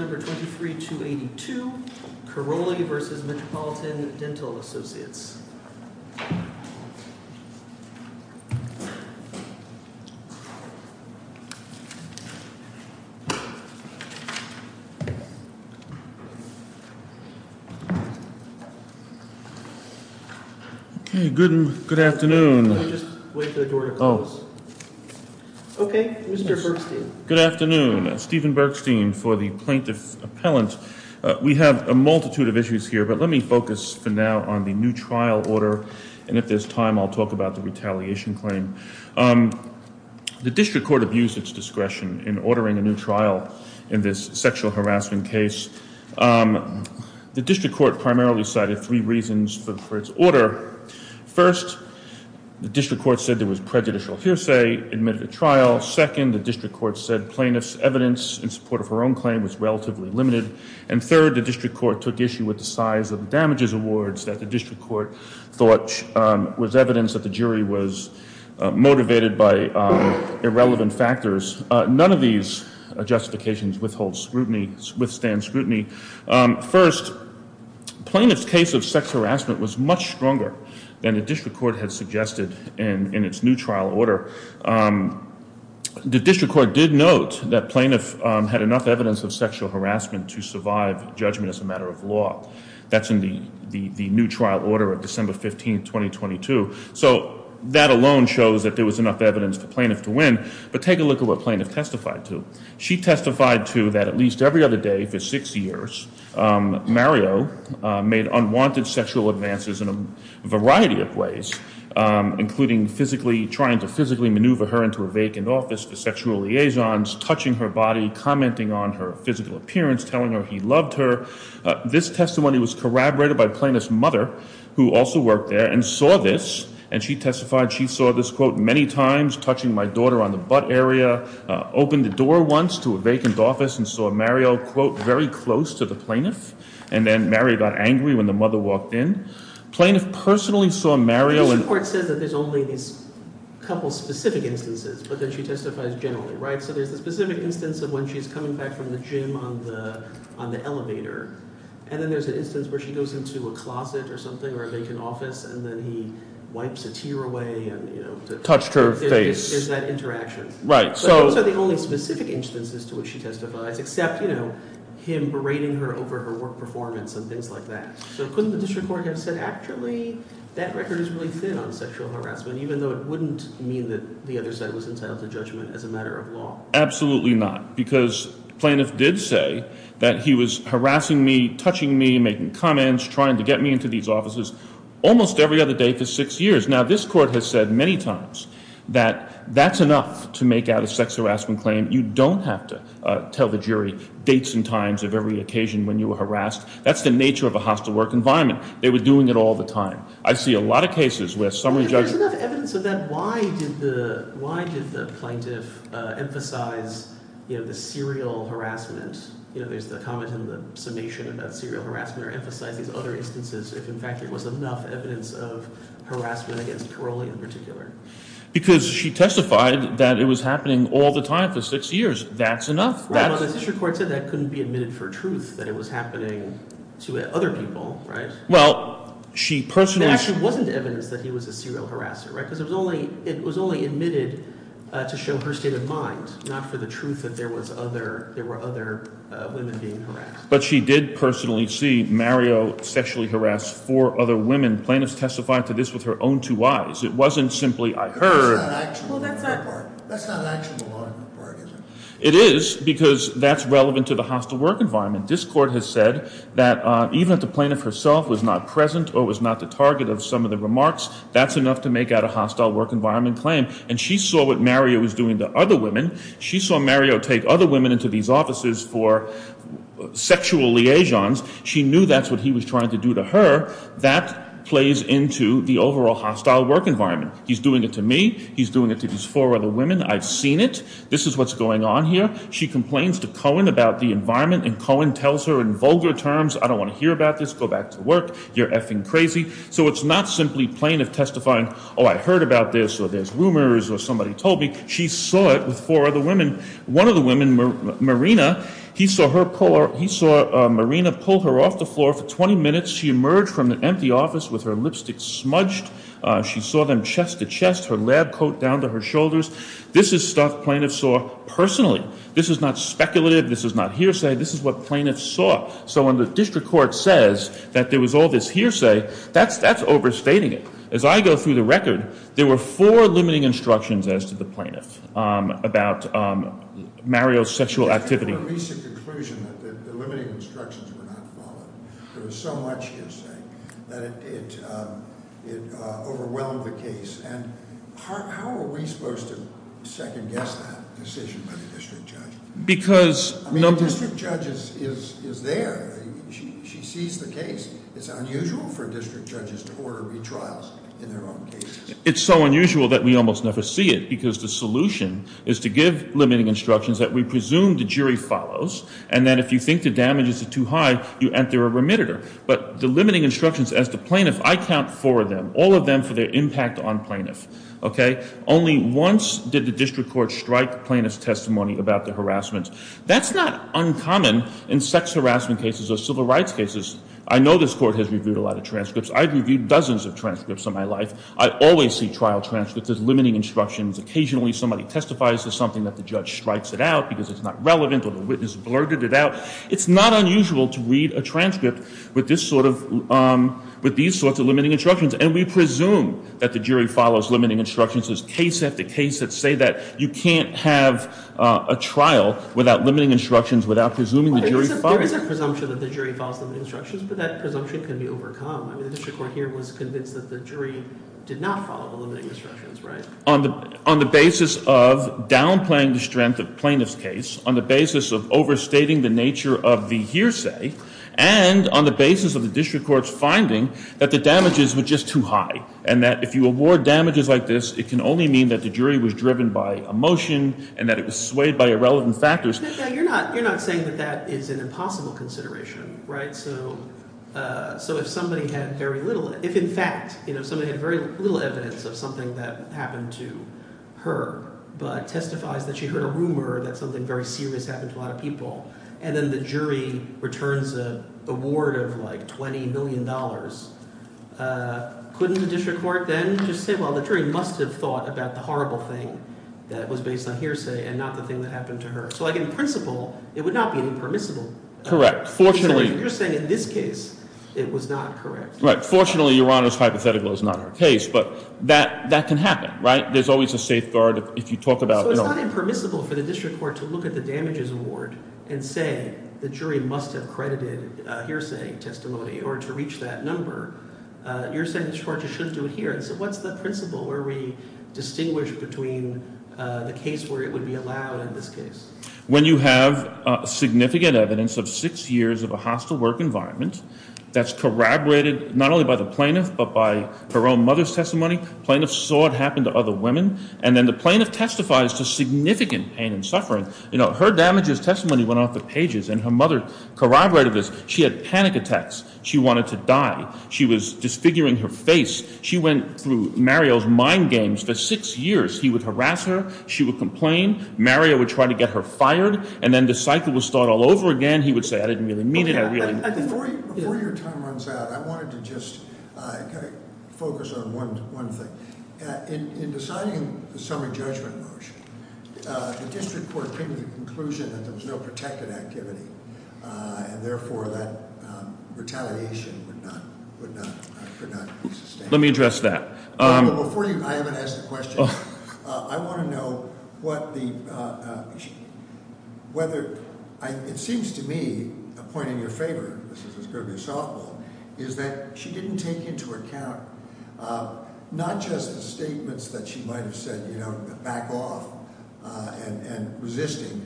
No. 23-282, Korrolli v. Metropolitan Dental Associates, D.D.S.- 225 Broadway, D.D.S. Okay, good afternoon. Let me just wait for the door to close. Okay, Mr. Bergstein. Good afternoon. Stephen Bergstein for the plaintiff appellant. We have a multitude of issues here, but let me focus for now on the new trial order. And if there's time, I'll talk about the retaliation claim. The district court abused its discretion in ordering a new trial in this sexual harassment case. The district court primarily cited three reasons for its order. First, the district court said there was prejudicial hearsay, admitted a trial. Second, the district court said plaintiff's evidence in support of her own claim was relatively limited. And third, the district court took issue with the size of the damages awards that the district court thought was evidence that the jury was motivated by irrelevant factors. None of these justifications withhold scrutiny, withstand scrutiny. First, plaintiff's case of sex harassment was much stronger than the district court had suggested in its new trial order. The district court did note that plaintiff had enough evidence of sexual harassment to survive judgment as a matter of law. That's in the new trial order of December 15, 2022. So that alone shows that there was enough evidence for plaintiff to win. But take a look at what plaintiff testified to. She testified to that at least every other day for six years, Mario made unwanted sexual advances in a variety of ways, including physically trying to physically maneuver her into a vacant office for sexual liaisons, touching her body, commenting on her physical appearance, telling her he loved her. This testimony was corroborated by plaintiff's mother, who also worked there and saw this. And she testified she saw this, quote, many times, touching my daughter on the butt area, opened the door once to a vacant office and saw Mario, quote, very close to the plaintiff. And then Mario got angry when the mother walked in. Plaintiff personally saw Mario. It says that there's only a couple of specific instances, but then she testifies generally. Right. So there's a specific instance of when she's coming back from the gym on the on the elevator. And then there's an instance where she goes into a closet or something or a vacant office and then he wipes a tear away and, you know, touched her face. There's that interaction. Right. So the only specific instances to which she testifies, except, you know, him berating her over her work performance and things like that. So couldn't the district court have said, actually, that record is really thin on sexual harassment, even though it wouldn't mean that the other side was entitled to judgment as a matter of law? Absolutely not, because plaintiff did say that he was harassing me, touching me, making comments, trying to get me into these offices almost every other day for six years. Now, this court has said many times that that's enough to make out a sex harassment claim. You don't have to tell the jury dates and times of every occasion when you were harassed. That's the nature of a hostile work environment. They were doing it all the time. I see a lot of cases where summary judges... If there's enough evidence of that, why did the plaintiff emphasize, you know, the serial harassment? You know, there's the comment in the summation about serial harassment or emphasize these other instances if, in fact, there was enough evidence of harassment against Caroli in particular. Because she testified that it was happening all the time for six years. That's enough. Right, but the district court said that couldn't be admitted for truth, that it was happening to other people, right? Well, she personally... There actually wasn't evidence that he was a serial harasser, right? Because it was only admitted to show her state of mind, not for the truth that there were other women being harassed. But she did personally see Mario sexually harass four other women. Plaintiffs testified to this with her own two eyes. It wasn't simply, I heard... That's not an actionable part. That's not an actionable part, is it? It is, because that's relevant to the hostile work environment. This court has said that even if the plaintiff herself was not present or was not the target of some of the remarks, that's enough to make out a hostile work environment claim. And she saw what Mario was doing to other women. She saw Mario take other women into these offices for sexual liaisons. She knew that's what he was trying to do to her. That plays into the overall hostile work environment. He's doing it to me. He's doing it to these four other women. I've seen it. This is what's going on here. She complains to Cohen about the environment, and Cohen tells her in vulgar terms, I don't want to hear about this, go back to work, you're effing crazy. So it's not simply plaintiff testifying, oh, I heard about this, or there's rumors, or somebody told me. She saw it with four other women. One of the women, Marina, he saw Marina pull her off the floor for 20 minutes. She emerged from the empty office with her lipstick smudged. She saw them chest to chest, her lab coat down to her shoulders. This is stuff plaintiffs saw personally. This is not speculative. This is not hearsay. This is what plaintiffs saw. So when the district court says that there was all this hearsay, that's overstating it. As I go through the record, there were four limiting instructions as to the plaintiff about Mario's sexual activity. I have a recent conclusion that the limiting instructions were not followed. There was so much hearsay that it overwhelmed the case. And how are we supposed to second guess that decision by the district judge? I mean, the district judge is there. She sees the case. It's unusual for district judges to order retrials in their own cases. It's so unusual that we almost never see it because the solution is to give limiting instructions that we presume the jury follows, and then if you think the damages are too high, you enter a remitter. But the limiting instructions as to plaintiff, I count four of them, all of them for their impact on plaintiff. Only once did the district court strike plaintiff's testimony about the harassment. That's not uncommon in sex harassment cases or civil rights cases. I know this court has reviewed a lot of transcripts. I've reviewed dozens of transcripts in my life. I always see trial transcripts as limiting instructions. Occasionally somebody testifies to something that the judge strikes it out because it's not relevant or the witness blurted it out. It's not unusual to read a transcript with this sort of ‑‑ with these sorts of limiting instructions, and we presume that the jury follows limiting instructions as case after case that say that you can't have a trial without limiting instructions, without presuming the jury follows. There is a presumption that the jury follows limiting instructions, but that presumption can be overcome. I mean, the district court here was convinced that the jury did not follow the limiting instructions, right? On the basis of downplaying the strength of plaintiff's case, on the basis of overstating the nature of the hearsay, and on the basis of the district court's finding that the damages were just too high and that if you award damages like this, it can only mean that the jury was driven by emotion and that it was swayed by irrelevant factors. You're not saying that that is an impossible consideration, right? So if somebody had very little ‑‑ if in fact somebody had very little evidence of something that happened to her but testifies that she heard a rumor that something very serious happened to a lot of people and then the jury returns an award of like $20 million, couldn't the district court then just say, well, the jury must have thought about the horrible thing that was based on hearsay and not the thing that happened to her? So in principle, it would not be impermissible. Correct. Fortunately ‑‑ You're saying in this case it was not correct. Right. Fortunately, Your Honor's hypothetical is not her case, but that can happen, right? There's always a safeguard if you talk about ‑‑ So it's not impermissible for the district court to look at the damages award and say the jury must have credited a hearsay testimony in order to reach that number. You're saying the district court just shouldn't do it here. So what's the principle where we distinguish between the case where it would be allowed in this case? When you have significant evidence of six years of a hostile work environment that's corroborated not only by the plaintiff but by her own mother's testimony, plaintiff saw it happen to other women and then the plaintiff testifies to significant pain and suffering. You know, her damages testimony went off the pages and her mother corroborated this. She had panic attacks. She wanted to die. She was disfiguring her face. She went through Mario's mind games for six years. He would harass her. She would complain. Mario would try to get her fired. And then the cycle would start all over again. He would say, I didn't really mean it. Before your time runs out, I wanted to just kind of focus on one thing. In deciding the summary judgment motion, the district court came to the conclusion that there was no protected activity, and therefore that retaliation would not be sustained. Let me address that. Before you – I haven't asked the question. I want to know what the – whether – it seems to me a point in your favor, this is going to be a softball, is that she didn't take into account not just the statements that she might have said, you know, back off and resisting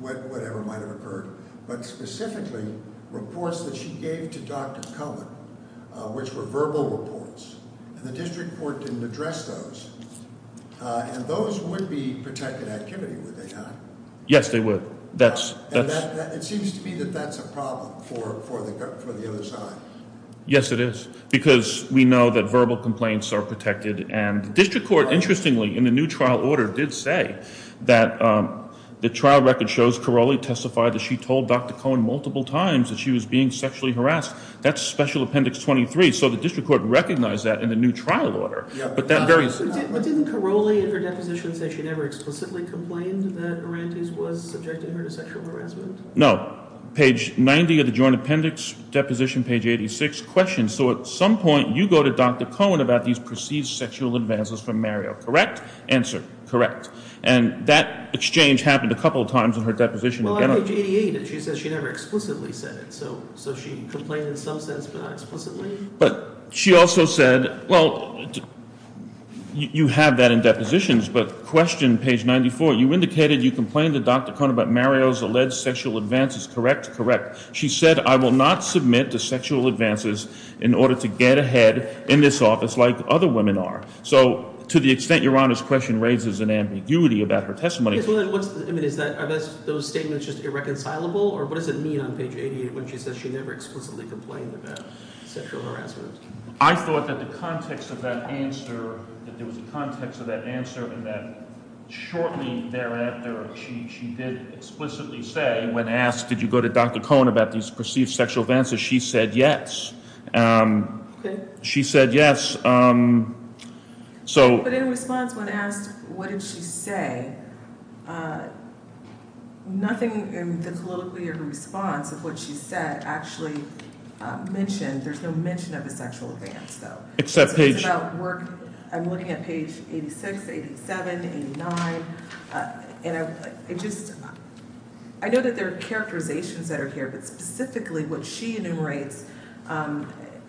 whatever might have occurred, but specifically reports that she gave to Dr. Cullen, which were verbal reports. And the district court didn't address those. And those would be protected activity, would they not? Yes, they would. That's – It seems to me that that's a problem for the other side. Yes, it is, because we know that verbal complaints are protected. And the district court, interestingly, in the new trial order, did say that the trial record shows Caroli testified that she told Dr. Cullen multiple times that she was being sexually harassed. That's special appendix 23. So the district court recognized that in the new trial order. But that very – But didn't Caroli in her deposition say she never explicitly complained that Morantes was subjecting her to sexual harassment? No. Page 90 of the joint appendix, deposition page 86, questions. So at some point you go to Dr. Cullen about these perceived sexual advances from Mario, correct? Answer, correct. And that exchange happened a couple of times in her deposition. Well, on page 88, she says she never explicitly said it. So she complained in some sense, but not explicitly. But she also said – well, you have that in depositions. But question page 94, you indicated you complained to Dr. Cullen about Mario's alleged sexual advances, correct? Correct. She said, I will not submit to sexual advances in order to get ahead in this office like other women are. So to the extent Your Honor's question raises an ambiguity about her testimony – Are those statements just irreconcilable? Or what does it mean on page 88 when she says she never explicitly complained about sexual harassment? I thought that the context of that answer, that there was a context of that answer and that shortly thereafter she did explicitly say, when asked did you go to Dr. Cullen about these perceived sexual advances, she said yes. Okay. She said yes. But in response, when asked what did she say, nothing in the political response of what she said actually mentioned. There's no mention of a sexual advance, though. Except page – It's about work – I'm looking at page 86, 87, 89. And I just – I know that there are characterizations that are here, but specifically what she enumerates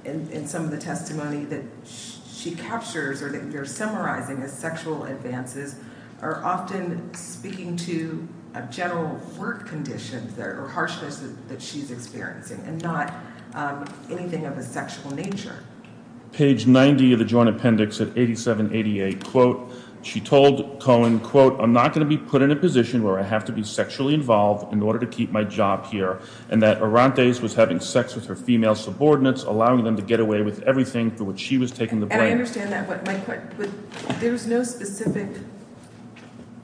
in some of the testimony that she captures or that you're summarizing as sexual advances are often speaking to a general work condition or harshness that she's experiencing and not anything of a sexual nature. Page 90 of the Joint Appendix at 87, 88, quote, she told Cullen, quote, I'm not going to be put in a position where I have to be sexually involved in order to keep my job here, and that Orantes was having sex with her female subordinates, allowing them to get away with everything for which she was taking the blame. And I understand that, but there's no specific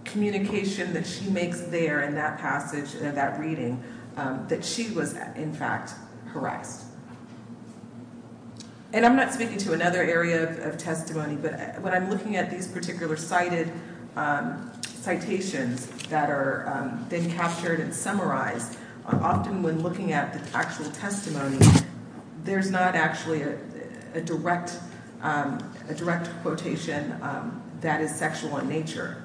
communication that she makes there in that passage, that reading, that she was, in fact, harassed. And I'm not speaking to another area of testimony, but when I'm looking at these particular cited citations that are then captured and summarized, often when looking at the actual testimony, there's not actually a direct quotation that is sexual in nature.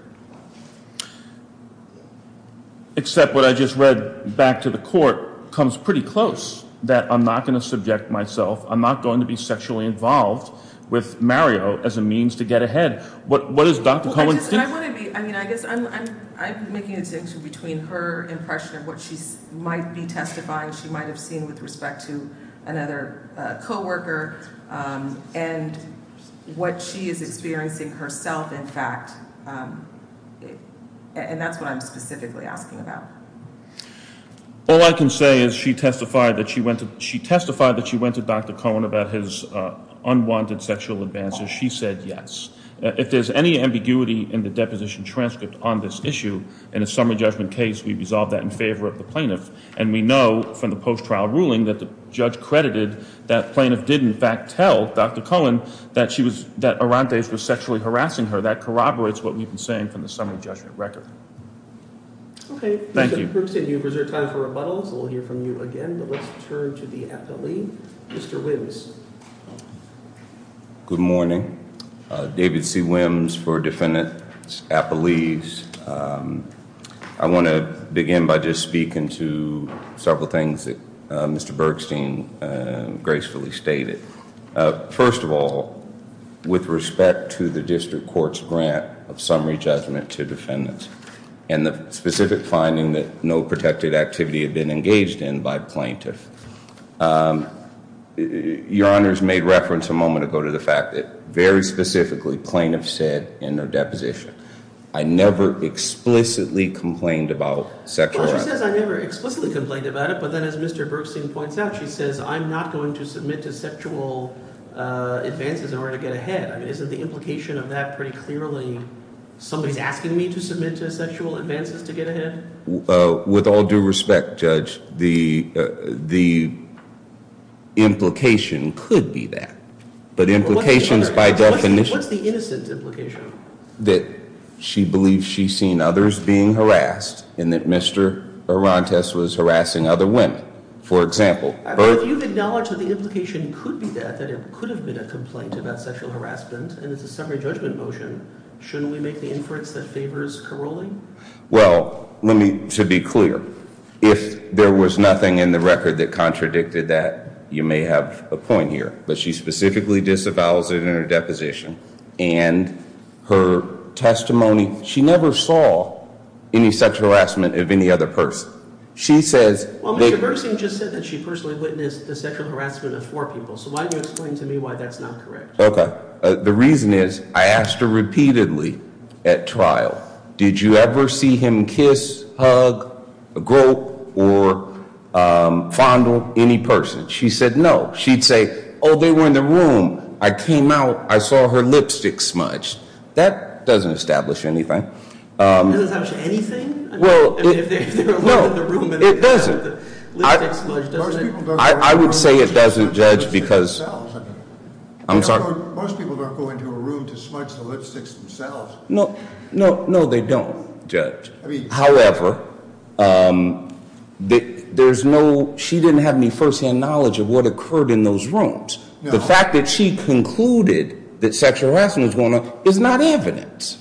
Except what I just read back to the court comes pretty close, that I'm not going to subject myself, I'm not going to be sexually involved with Mario as a means to get ahead. What does Dr. Cullen think? I guess I'm making a distinction between her impression of what she might be testifying, she might have seen with respect to another coworker, and what she is experiencing herself, in fact. And that's what I'm specifically asking about. All I can say is she testified that she went to Dr. Cullen about his unwanted sexual advances. She said yes. If there's any ambiguity in the deposition transcript on this issue, in a summary judgment case, we resolve that in favor of the plaintiff. And we know from the post-trial ruling that the judge credited that plaintiff did in fact tell Dr. Cullen that Arantes was sexually harassing her. That corroborates what we've been saying from the summary judgment record. Okay. Thank you. We'll hear from you again, but let's turn to the appellee, Mr. Wims. Good morning. David C. Wims for Defendant Appellees. I want to begin by just speaking to several things that Mr. Bergstein gracefully stated. First of all, with respect to the district court's grant of summary judgment to defendants, and the specific finding that no protected activity had been engaged in by plaintiffs, your honors made reference a moment ago to the fact that very specifically plaintiffs said in their deposition, I never explicitly complained about sexual harassment. Well, she says I never explicitly complained about it, but then as Mr. Bergstein points out, she says I'm not going to submit to sexual advances in order to get ahead. I mean, isn't the implication of that pretty clearly somebody's asking me to submit to sexual advances to get ahead? With all due respect, Judge, the implication could be that. But implications by definition. What's the innocent implication? That she believes she's seen others being harassed and that Mr. Arantes was harassing other women, for example. If you acknowledge that the implication could be that, that it could have been a complaint about sexual harassment and it's a summary judgment motion, shouldn't we make the inference that favors Carolling? Well, to be clear, if there was nothing in the record that contradicted that, you may have a point here. But she specifically disavows it in her deposition. And her testimony, she never saw any sexual harassment of any other person. Well, Mr. Bergstein just said that she personally witnessed the sexual harassment of four people. So why don't you explain to me why that's not correct? Okay. The reason is I asked her repeatedly at trial, did you ever see him kiss, hug, grope, or fondle any person? She said no. She'd say, oh, they were in the room. I came out. I saw her lipstick smudged. That doesn't establish anything. It doesn't establish anything? Well, no, it doesn't. I would say it doesn't, Judge, because I'm sorry. Most people don't go into a room to smudge the lipsticks themselves. No, they don't, Judge. However, there's no, she didn't have any firsthand knowledge of what occurred in those rooms. The fact that she concluded that sexual harassment was going on is not evidence.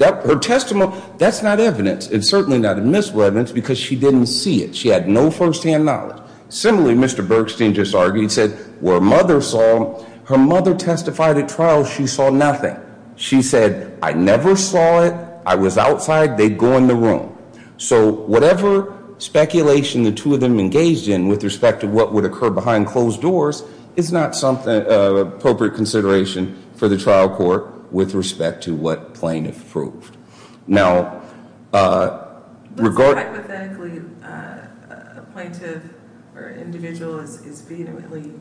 Her testimony, that's not evidence. It's certainly not admissible evidence because she didn't see it. She had no firsthand knowledge. Similarly, Mr. Bergstein just argued, said, where a mother saw, her mother testified at trial, she saw nothing. She said, I never saw it. I was outside. They'd go in the room. So whatever speculation the two of them engaged in with respect to what would occur behind closed doors is not appropriate consideration for the trial court with respect to what plaintiff proved. Now, regarding Hypothetically, a plaintiff or individual is vehemently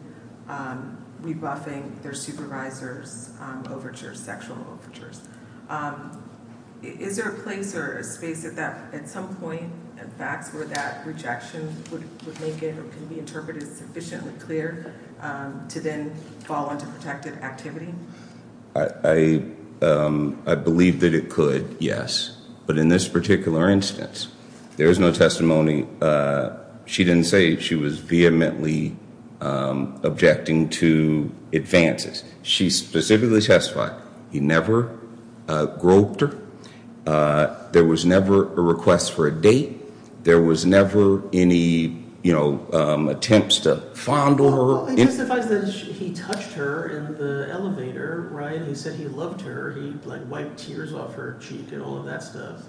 rebuffing their supervisor's overtures, sexual overtures. Is there a place or a space at that, at some point, where that rejection would make it or can be interpreted sufficiently clear to then fall into protective activity? I believe that it could, yes. But in this particular instance, there is no testimony. She didn't say she was vehemently objecting to advances. She specifically testified he never groped her. There was never a request for a date. There was never any, you know, attempts to fondle her. He testified that he touched her in the elevator, right? He said he loved her. He, like, wiped tears off her cheek and all of that stuff.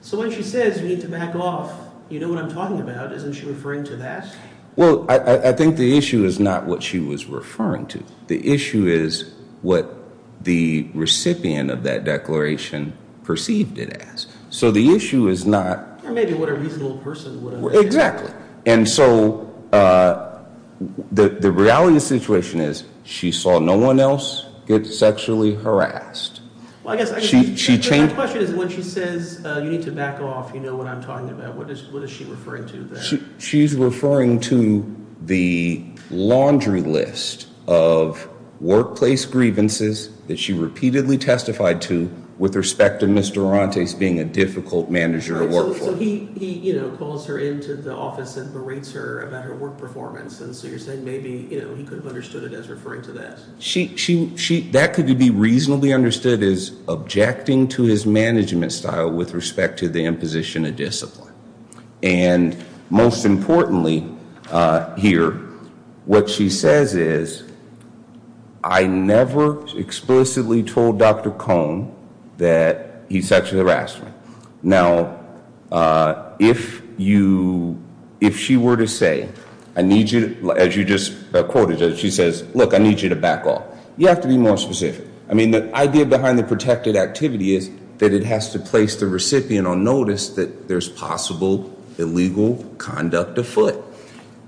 So when she says you need to back off, you know what I'm talking about. Isn't she referring to that? Well, I think the issue is not what she was referring to. The issue is what the recipient of that declaration perceived it as. So the issue is not. Or maybe what a reasonable person would have said. Exactly. And so the reality of the situation is she saw no one else get sexually harassed. Well, I guess my question is when she says you need to back off, you know what I'm talking about, what is she referring to there? She's referring to the laundry list of workplace grievances that she repeatedly testified to with respect to Ms. Durante's being a difficult manager to work for. So he, you know, calls her into the office and berates her about her work performance. And so you're saying maybe, you know, he could have understood it as referring to that. That could be reasonably understood as objecting to his management style with respect to the imposition of discipline. And most importantly here, what she says is, I never explicitly told Dr. Cohn that he sexually harassed me. Now, if you, if she were to say, I need you to, as you just quoted, she says, look, I need you to back off. You have to be more specific. I mean, the idea behind the protected activity is that it has to place the recipient on notice that there's possible illegal conduct afoot.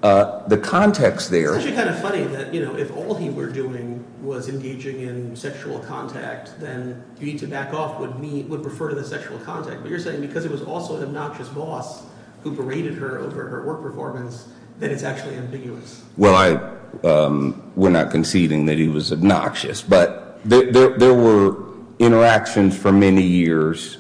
The context there. It's actually kind of funny that, you know, if all he were doing was engaging in sexual contact, then you need to back off would refer to the sexual contact. But you're saying because it was also an obnoxious boss who berated her over her work performance, that it's actually ambiguous. Well, I, we're not conceding that he was obnoxious. But there were interactions for many years.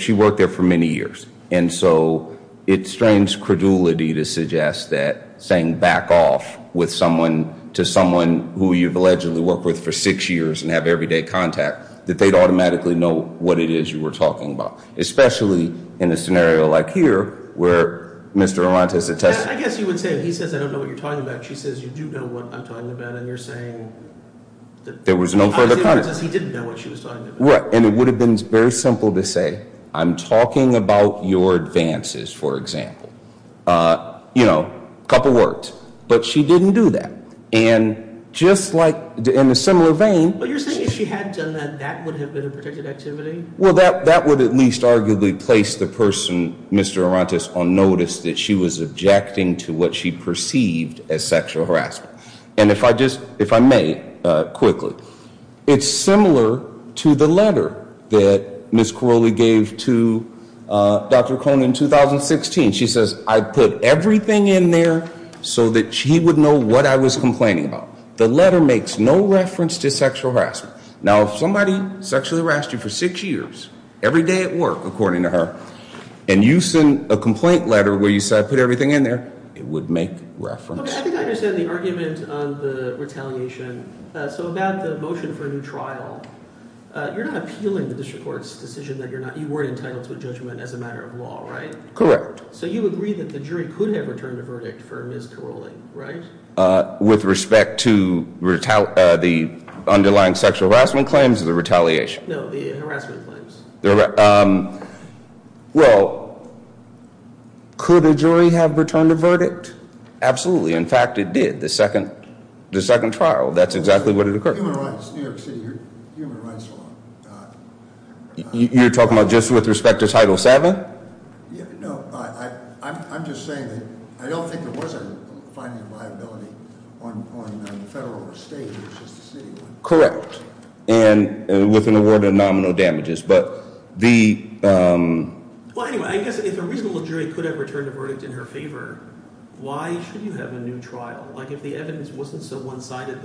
She worked there for many years. And so it strains credulity to suggest that saying back off with someone to someone who you've allegedly worked with for six years and have everyday contact, that they'd automatically know what it is you were talking about. Especially in a scenario like here where Mr. Arantes had testified. I guess you would say he says, I don't know what you're talking about. She says, you do know what I'm talking about. And you're saying. There was no further comment. He didn't know what she was talking about. And it would have been very simple to say, I'm talking about your advances, for example. You know, a couple words. But she didn't do that. And just like in a similar vein. But you're saying if she had done that, that would have been a protected activity? Well, that would at least arguably place the person, Mr. Arantes, on notice that she was objecting to what she perceived as sexual harassment. And if I just, if I may, quickly. It's similar to the letter that Ms. Corolli gave to Dr. Cohn in 2016. She says, I put everything in there so that she would know what I was complaining about. The letter makes no reference to sexual harassment. Now, if somebody sexually harassed you for six years, every day at work, according to her. And you send a complaint letter where you say I put everything in there, it would make reference. I think I understand the argument on the retaliation. So about the motion for a new trial. You're not appealing the district court's decision that you're not, you weren't entitled to a judgment as a matter of law, right? Correct. So you agree that the jury could have returned a verdict for Ms. Corolli, right? With respect to the underlying sexual harassment claims or the retaliation? No, the harassment claims. Well, could a jury have returned a verdict? Absolutely. In fact, it did. The second trial. That's exactly what had occurred. Human rights. New York City, human rights law. You're talking about just with respect to Title VII? No, I'm just saying that I don't think there was a finding of liability on federal or state. Correct. And with an award of nominal damages. But the- Well, anyway, I guess if a reasonable jury could have returned a verdict in her favor, why should you have a new trial? Like if the evidence wasn't so one-sided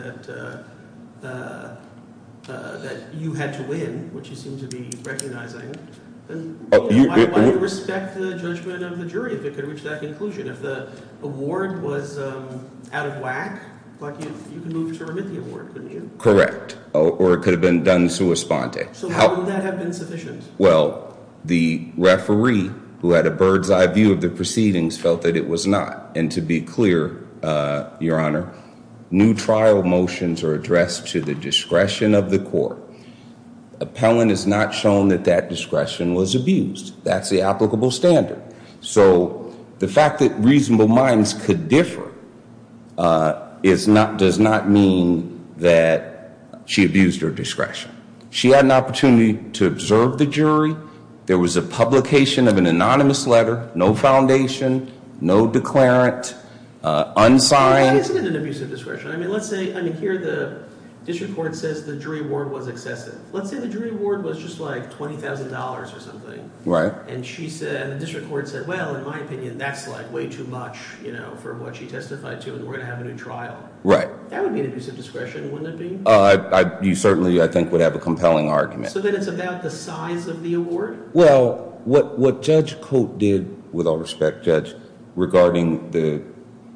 that you had to win, which you seem to be recognizing. Why respect the judgment of the jury if it could reach that conclusion? If the award was out of whack, you could move to remit the award, couldn't you? Correct. Or it could have been done sua sponte. So how would that have been sufficient? Well, the referee, who had a bird's eye view of the proceedings, felt that it was not. And to be clear, Your Honor, new trial motions are addressed to the discretion of the court. Appellant has not shown that that discretion was abused. That's the applicable standard. So the fact that reasonable minds could differ does not mean that she abused her discretion. She had an opportunity to observe the jury. There was a publication of an anonymous letter, no foundation, no declarant, unsigned. Why is it an abuse of discretion? I mean, let's say here the district court says the jury award was excessive. Let's say the jury award was just like $20,000 or something. Right. And the district court said, well, in my opinion, that's like way too much for what she testified to, and we're going to have a new trial. Right. That would be an abuse of discretion, wouldn't it be? You certainly, I think, would have a compelling argument. So then it's about the size of the award? Well, what Judge Cote did, with all respect, Judge, regarding the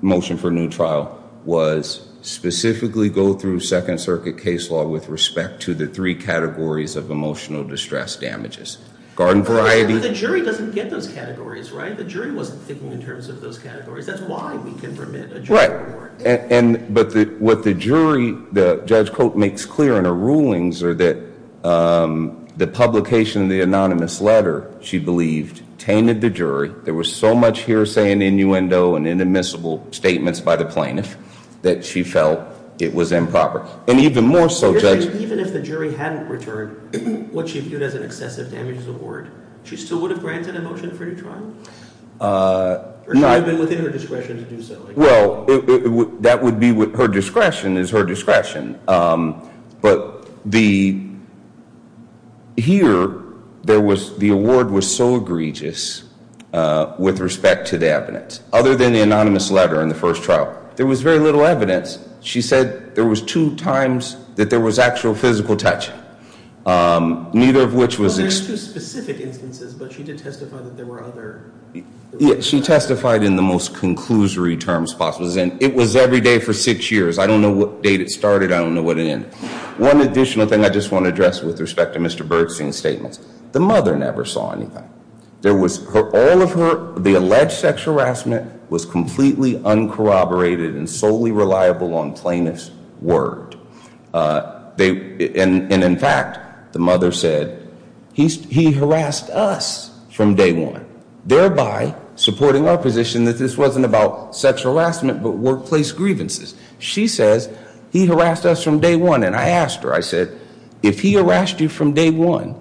motion for a new trial, was specifically go through Second Circuit case law with respect to the three categories of emotional distress damages. Garden variety. But the jury doesn't get those categories, right? The jury wasn't thinking in terms of those categories. That's why we can permit a jury award. But what the jury, Judge Cote, makes clear in her rulings are that the publication of the anonymous letter, she believed, tainted the jury. There was so much hearsay and innuendo and inadmissible statements by the plaintiff that she felt it was improper. And even more so, Judge. Even if the jury hadn't returned what she viewed as an excessive damages award, she still would have granted a motion for a new trial? Or she would have been within her discretion to do so? Well, her discretion is her discretion. But here, the award was so egregious with respect to the evidence. Other than the anonymous letter in the first trial, there was very little evidence. She said there was two times that there was actual physical touch. Well, there's two specific instances, but she did testify that there were other instances. She testified in the most conclusory terms possible. It was every day for six years. I don't know what date it started. I don't know what it ended. One additional thing I just want to address with respect to Mr. Bergstein's statements. The mother never saw anything. There was all of her, the alleged sex harassment was completely uncorroborated and solely reliable on plaintiff's word. And, in fact, the mother said, he harassed us from day one, thereby supporting our position that this wasn't about sexual harassment but workplace grievances. She says, he harassed us from day one. And I asked her, I said, if he harassed you from day one,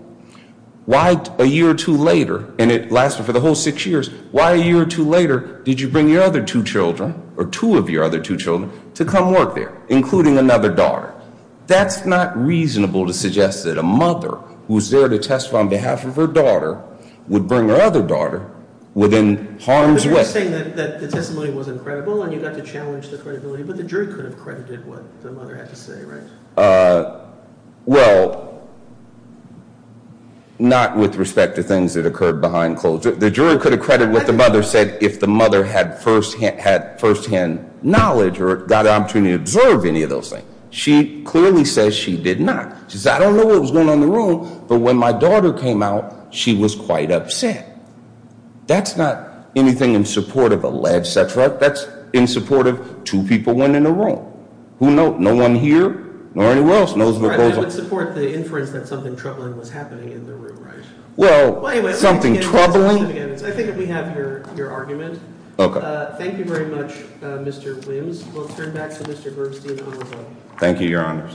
why a year or two later, and it lasted for the whole six years, why a year or two later did you bring your other two children or two of your other two children to come work there, including another daughter? That's not reasonable to suggest that a mother who was there to testify on behalf of her daughter would bring her other daughter within harm's way. But you're saying that the testimony wasn't credible and you got to challenge the credibility, but the jury could have credited what the mother had to say, right? Well, not with respect to things that occurred behind closed. The jury could have credited what the mother said if the mother had firsthand knowledge or got an opportunity to observe any of those things. She clearly says she did not. She says, I don't know what was going on in the room, but when my daughter came out, she was quite upset. That's not anything in support of alleged sex, right? That's in support of two people went in the room. Who knows? No one here or anyone else knows what goes on. That would support the inference that something troubling was happening in the room, right? Well, something troubling? I think we have your argument. Thank you very much, Mr. Williams. We'll turn back to Mr. Bergstein. Thank you, Your Honors.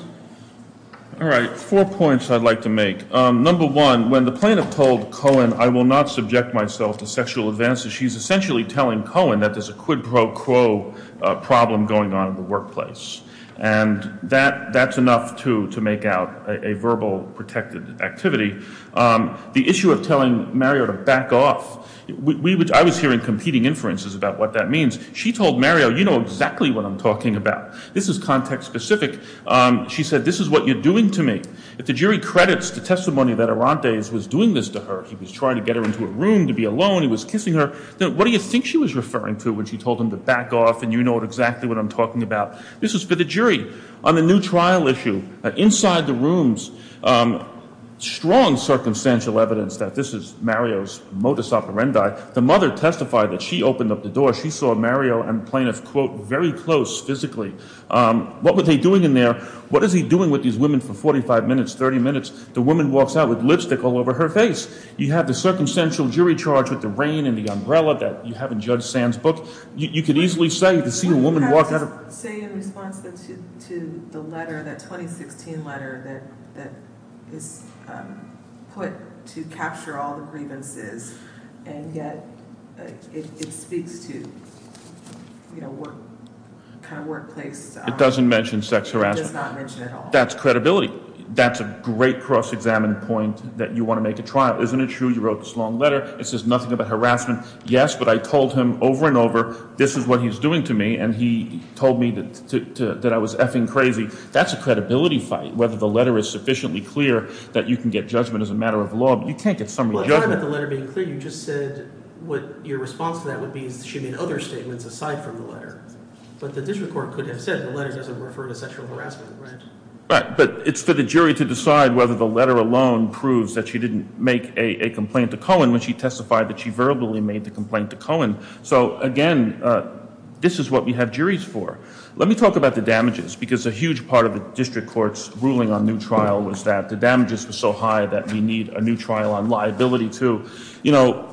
All right. Four points I'd like to make. Number one, when the plaintiff told Cohen, I will not subject myself to sexual advances, she's essentially telling Cohen that there's a quid pro quo problem going on in the workplace. And that's enough to make out a verbal protected activity. The issue of telling Mario to back off, I was hearing competing inferences about what that means. She told Mario, you know exactly what I'm talking about. This is context specific. She said, this is what you're doing to me. If the jury credits the testimony that Arantes was doing this to her, he was trying to get her into a room to be alone. He was kissing her. What do you think she was referring to when she told him to back off and you know exactly what I'm talking about? This is for the jury. On the new trial issue, inside the rooms, strong circumstantial evidence that this is Mario's modus operandi. The mother testified that she opened up the door. She saw Mario and the plaintiff, quote, very close physically. What were they doing in there? What is he doing with these women for 45 minutes, 30 minutes? The woman walks out with lipstick all over her face. You have the circumstantial jury charge with the rain and the umbrella that you have in Judge Sand's book. You can easily say to see a woman walk out of Say in response to the letter, that 2016 letter that is put to capture all the grievances and yet it speaks to kind of workplace It doesn't mention sex harassment. It does not mention at all. That's credibility. That's a great cross-examined point that you want to make a trial. Isn't it true? You wrote this long letter. It says nothing about harassment. Yes, but I told him over and over. This is what he's doing to me. And he told me that I was effing crazy. That's a credibility fight. Whether the letter is sufficiently clear that you can get judgment as a matter of law. You can't get summary judgment. Well, it's not about the letter being clear. You just said what your response to that would be is she made other statements aside from the letter. But the district court could have said the letter doesn't refer to sexual harassment, right? Right. But it's for the jury to decide whether the letter alone proves that she didn't make a complaint to Cohen when she testified that she verbally made the complaint to Cohen. So, again, this is what we have juries for. Let me talk about the damages because a huge part of the district court's ruling on new trial was that the damages were so high that we need a new trial on liability too. You know,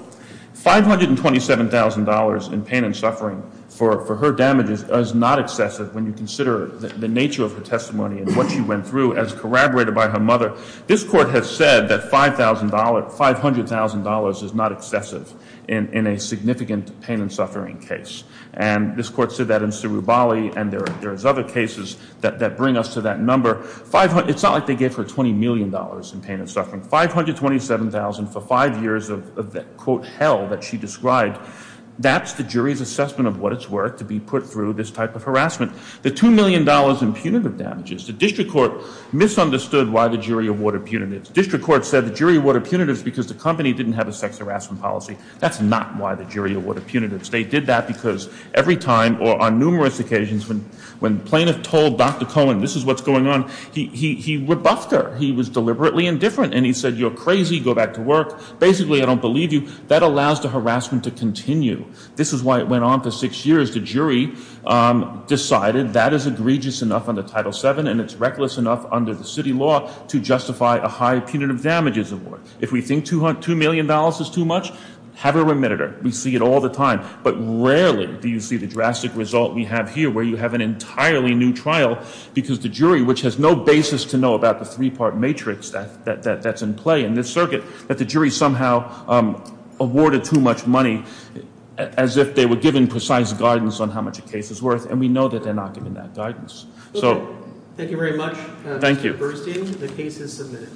$527,000 in pain and suffering for her damages is not excessive when you consider the nature of her testimony and what she went through as corroborated by her mother. This court has said that $500,000 is not excessive in a significant pain and suffering case. And this court said that in Sirubali and there's other cases that bring us to that number. It's not like they gave her $20 million in pain and suffering. $527,000 for five years of, quote, hell that she described, that's the jury's assessment of what it's worth to be put through this type of harassment. The $2 million in punitive damages, the district court misunderstood why the jury awarded punitives. District court said the jury awarded punitives because the company didn't have a sex harassment policy. That's not why the jury awarded punitives. They did that because every time or on numerous occasions when plaintiff told Dr. Cohen this is what's going on, he rebuffed her. He was deliberately indifferent and he said you're crazy, go back to work. Basically, I don't believe you. That allows the harassment to continue. This is why it went on for six years. The jury decided that is egregious enough under Title VII and it's reckless enough under the city law to justify a high punitive damages award. If we think $2 million is too much, have her remitted her. We see it all the time. But rarely do you see the drastic result we have here where you have an entirely new trial because the jury, which has no basis to know about the three-part matrix that's in play in this circuit, that the jury somehow awarded too much money as if they were given precise guidance on how much a case is worth. And we know that they're not giving that guidance. So. Thank you very much. Thank you. Mr. Burstein, the case is submitted.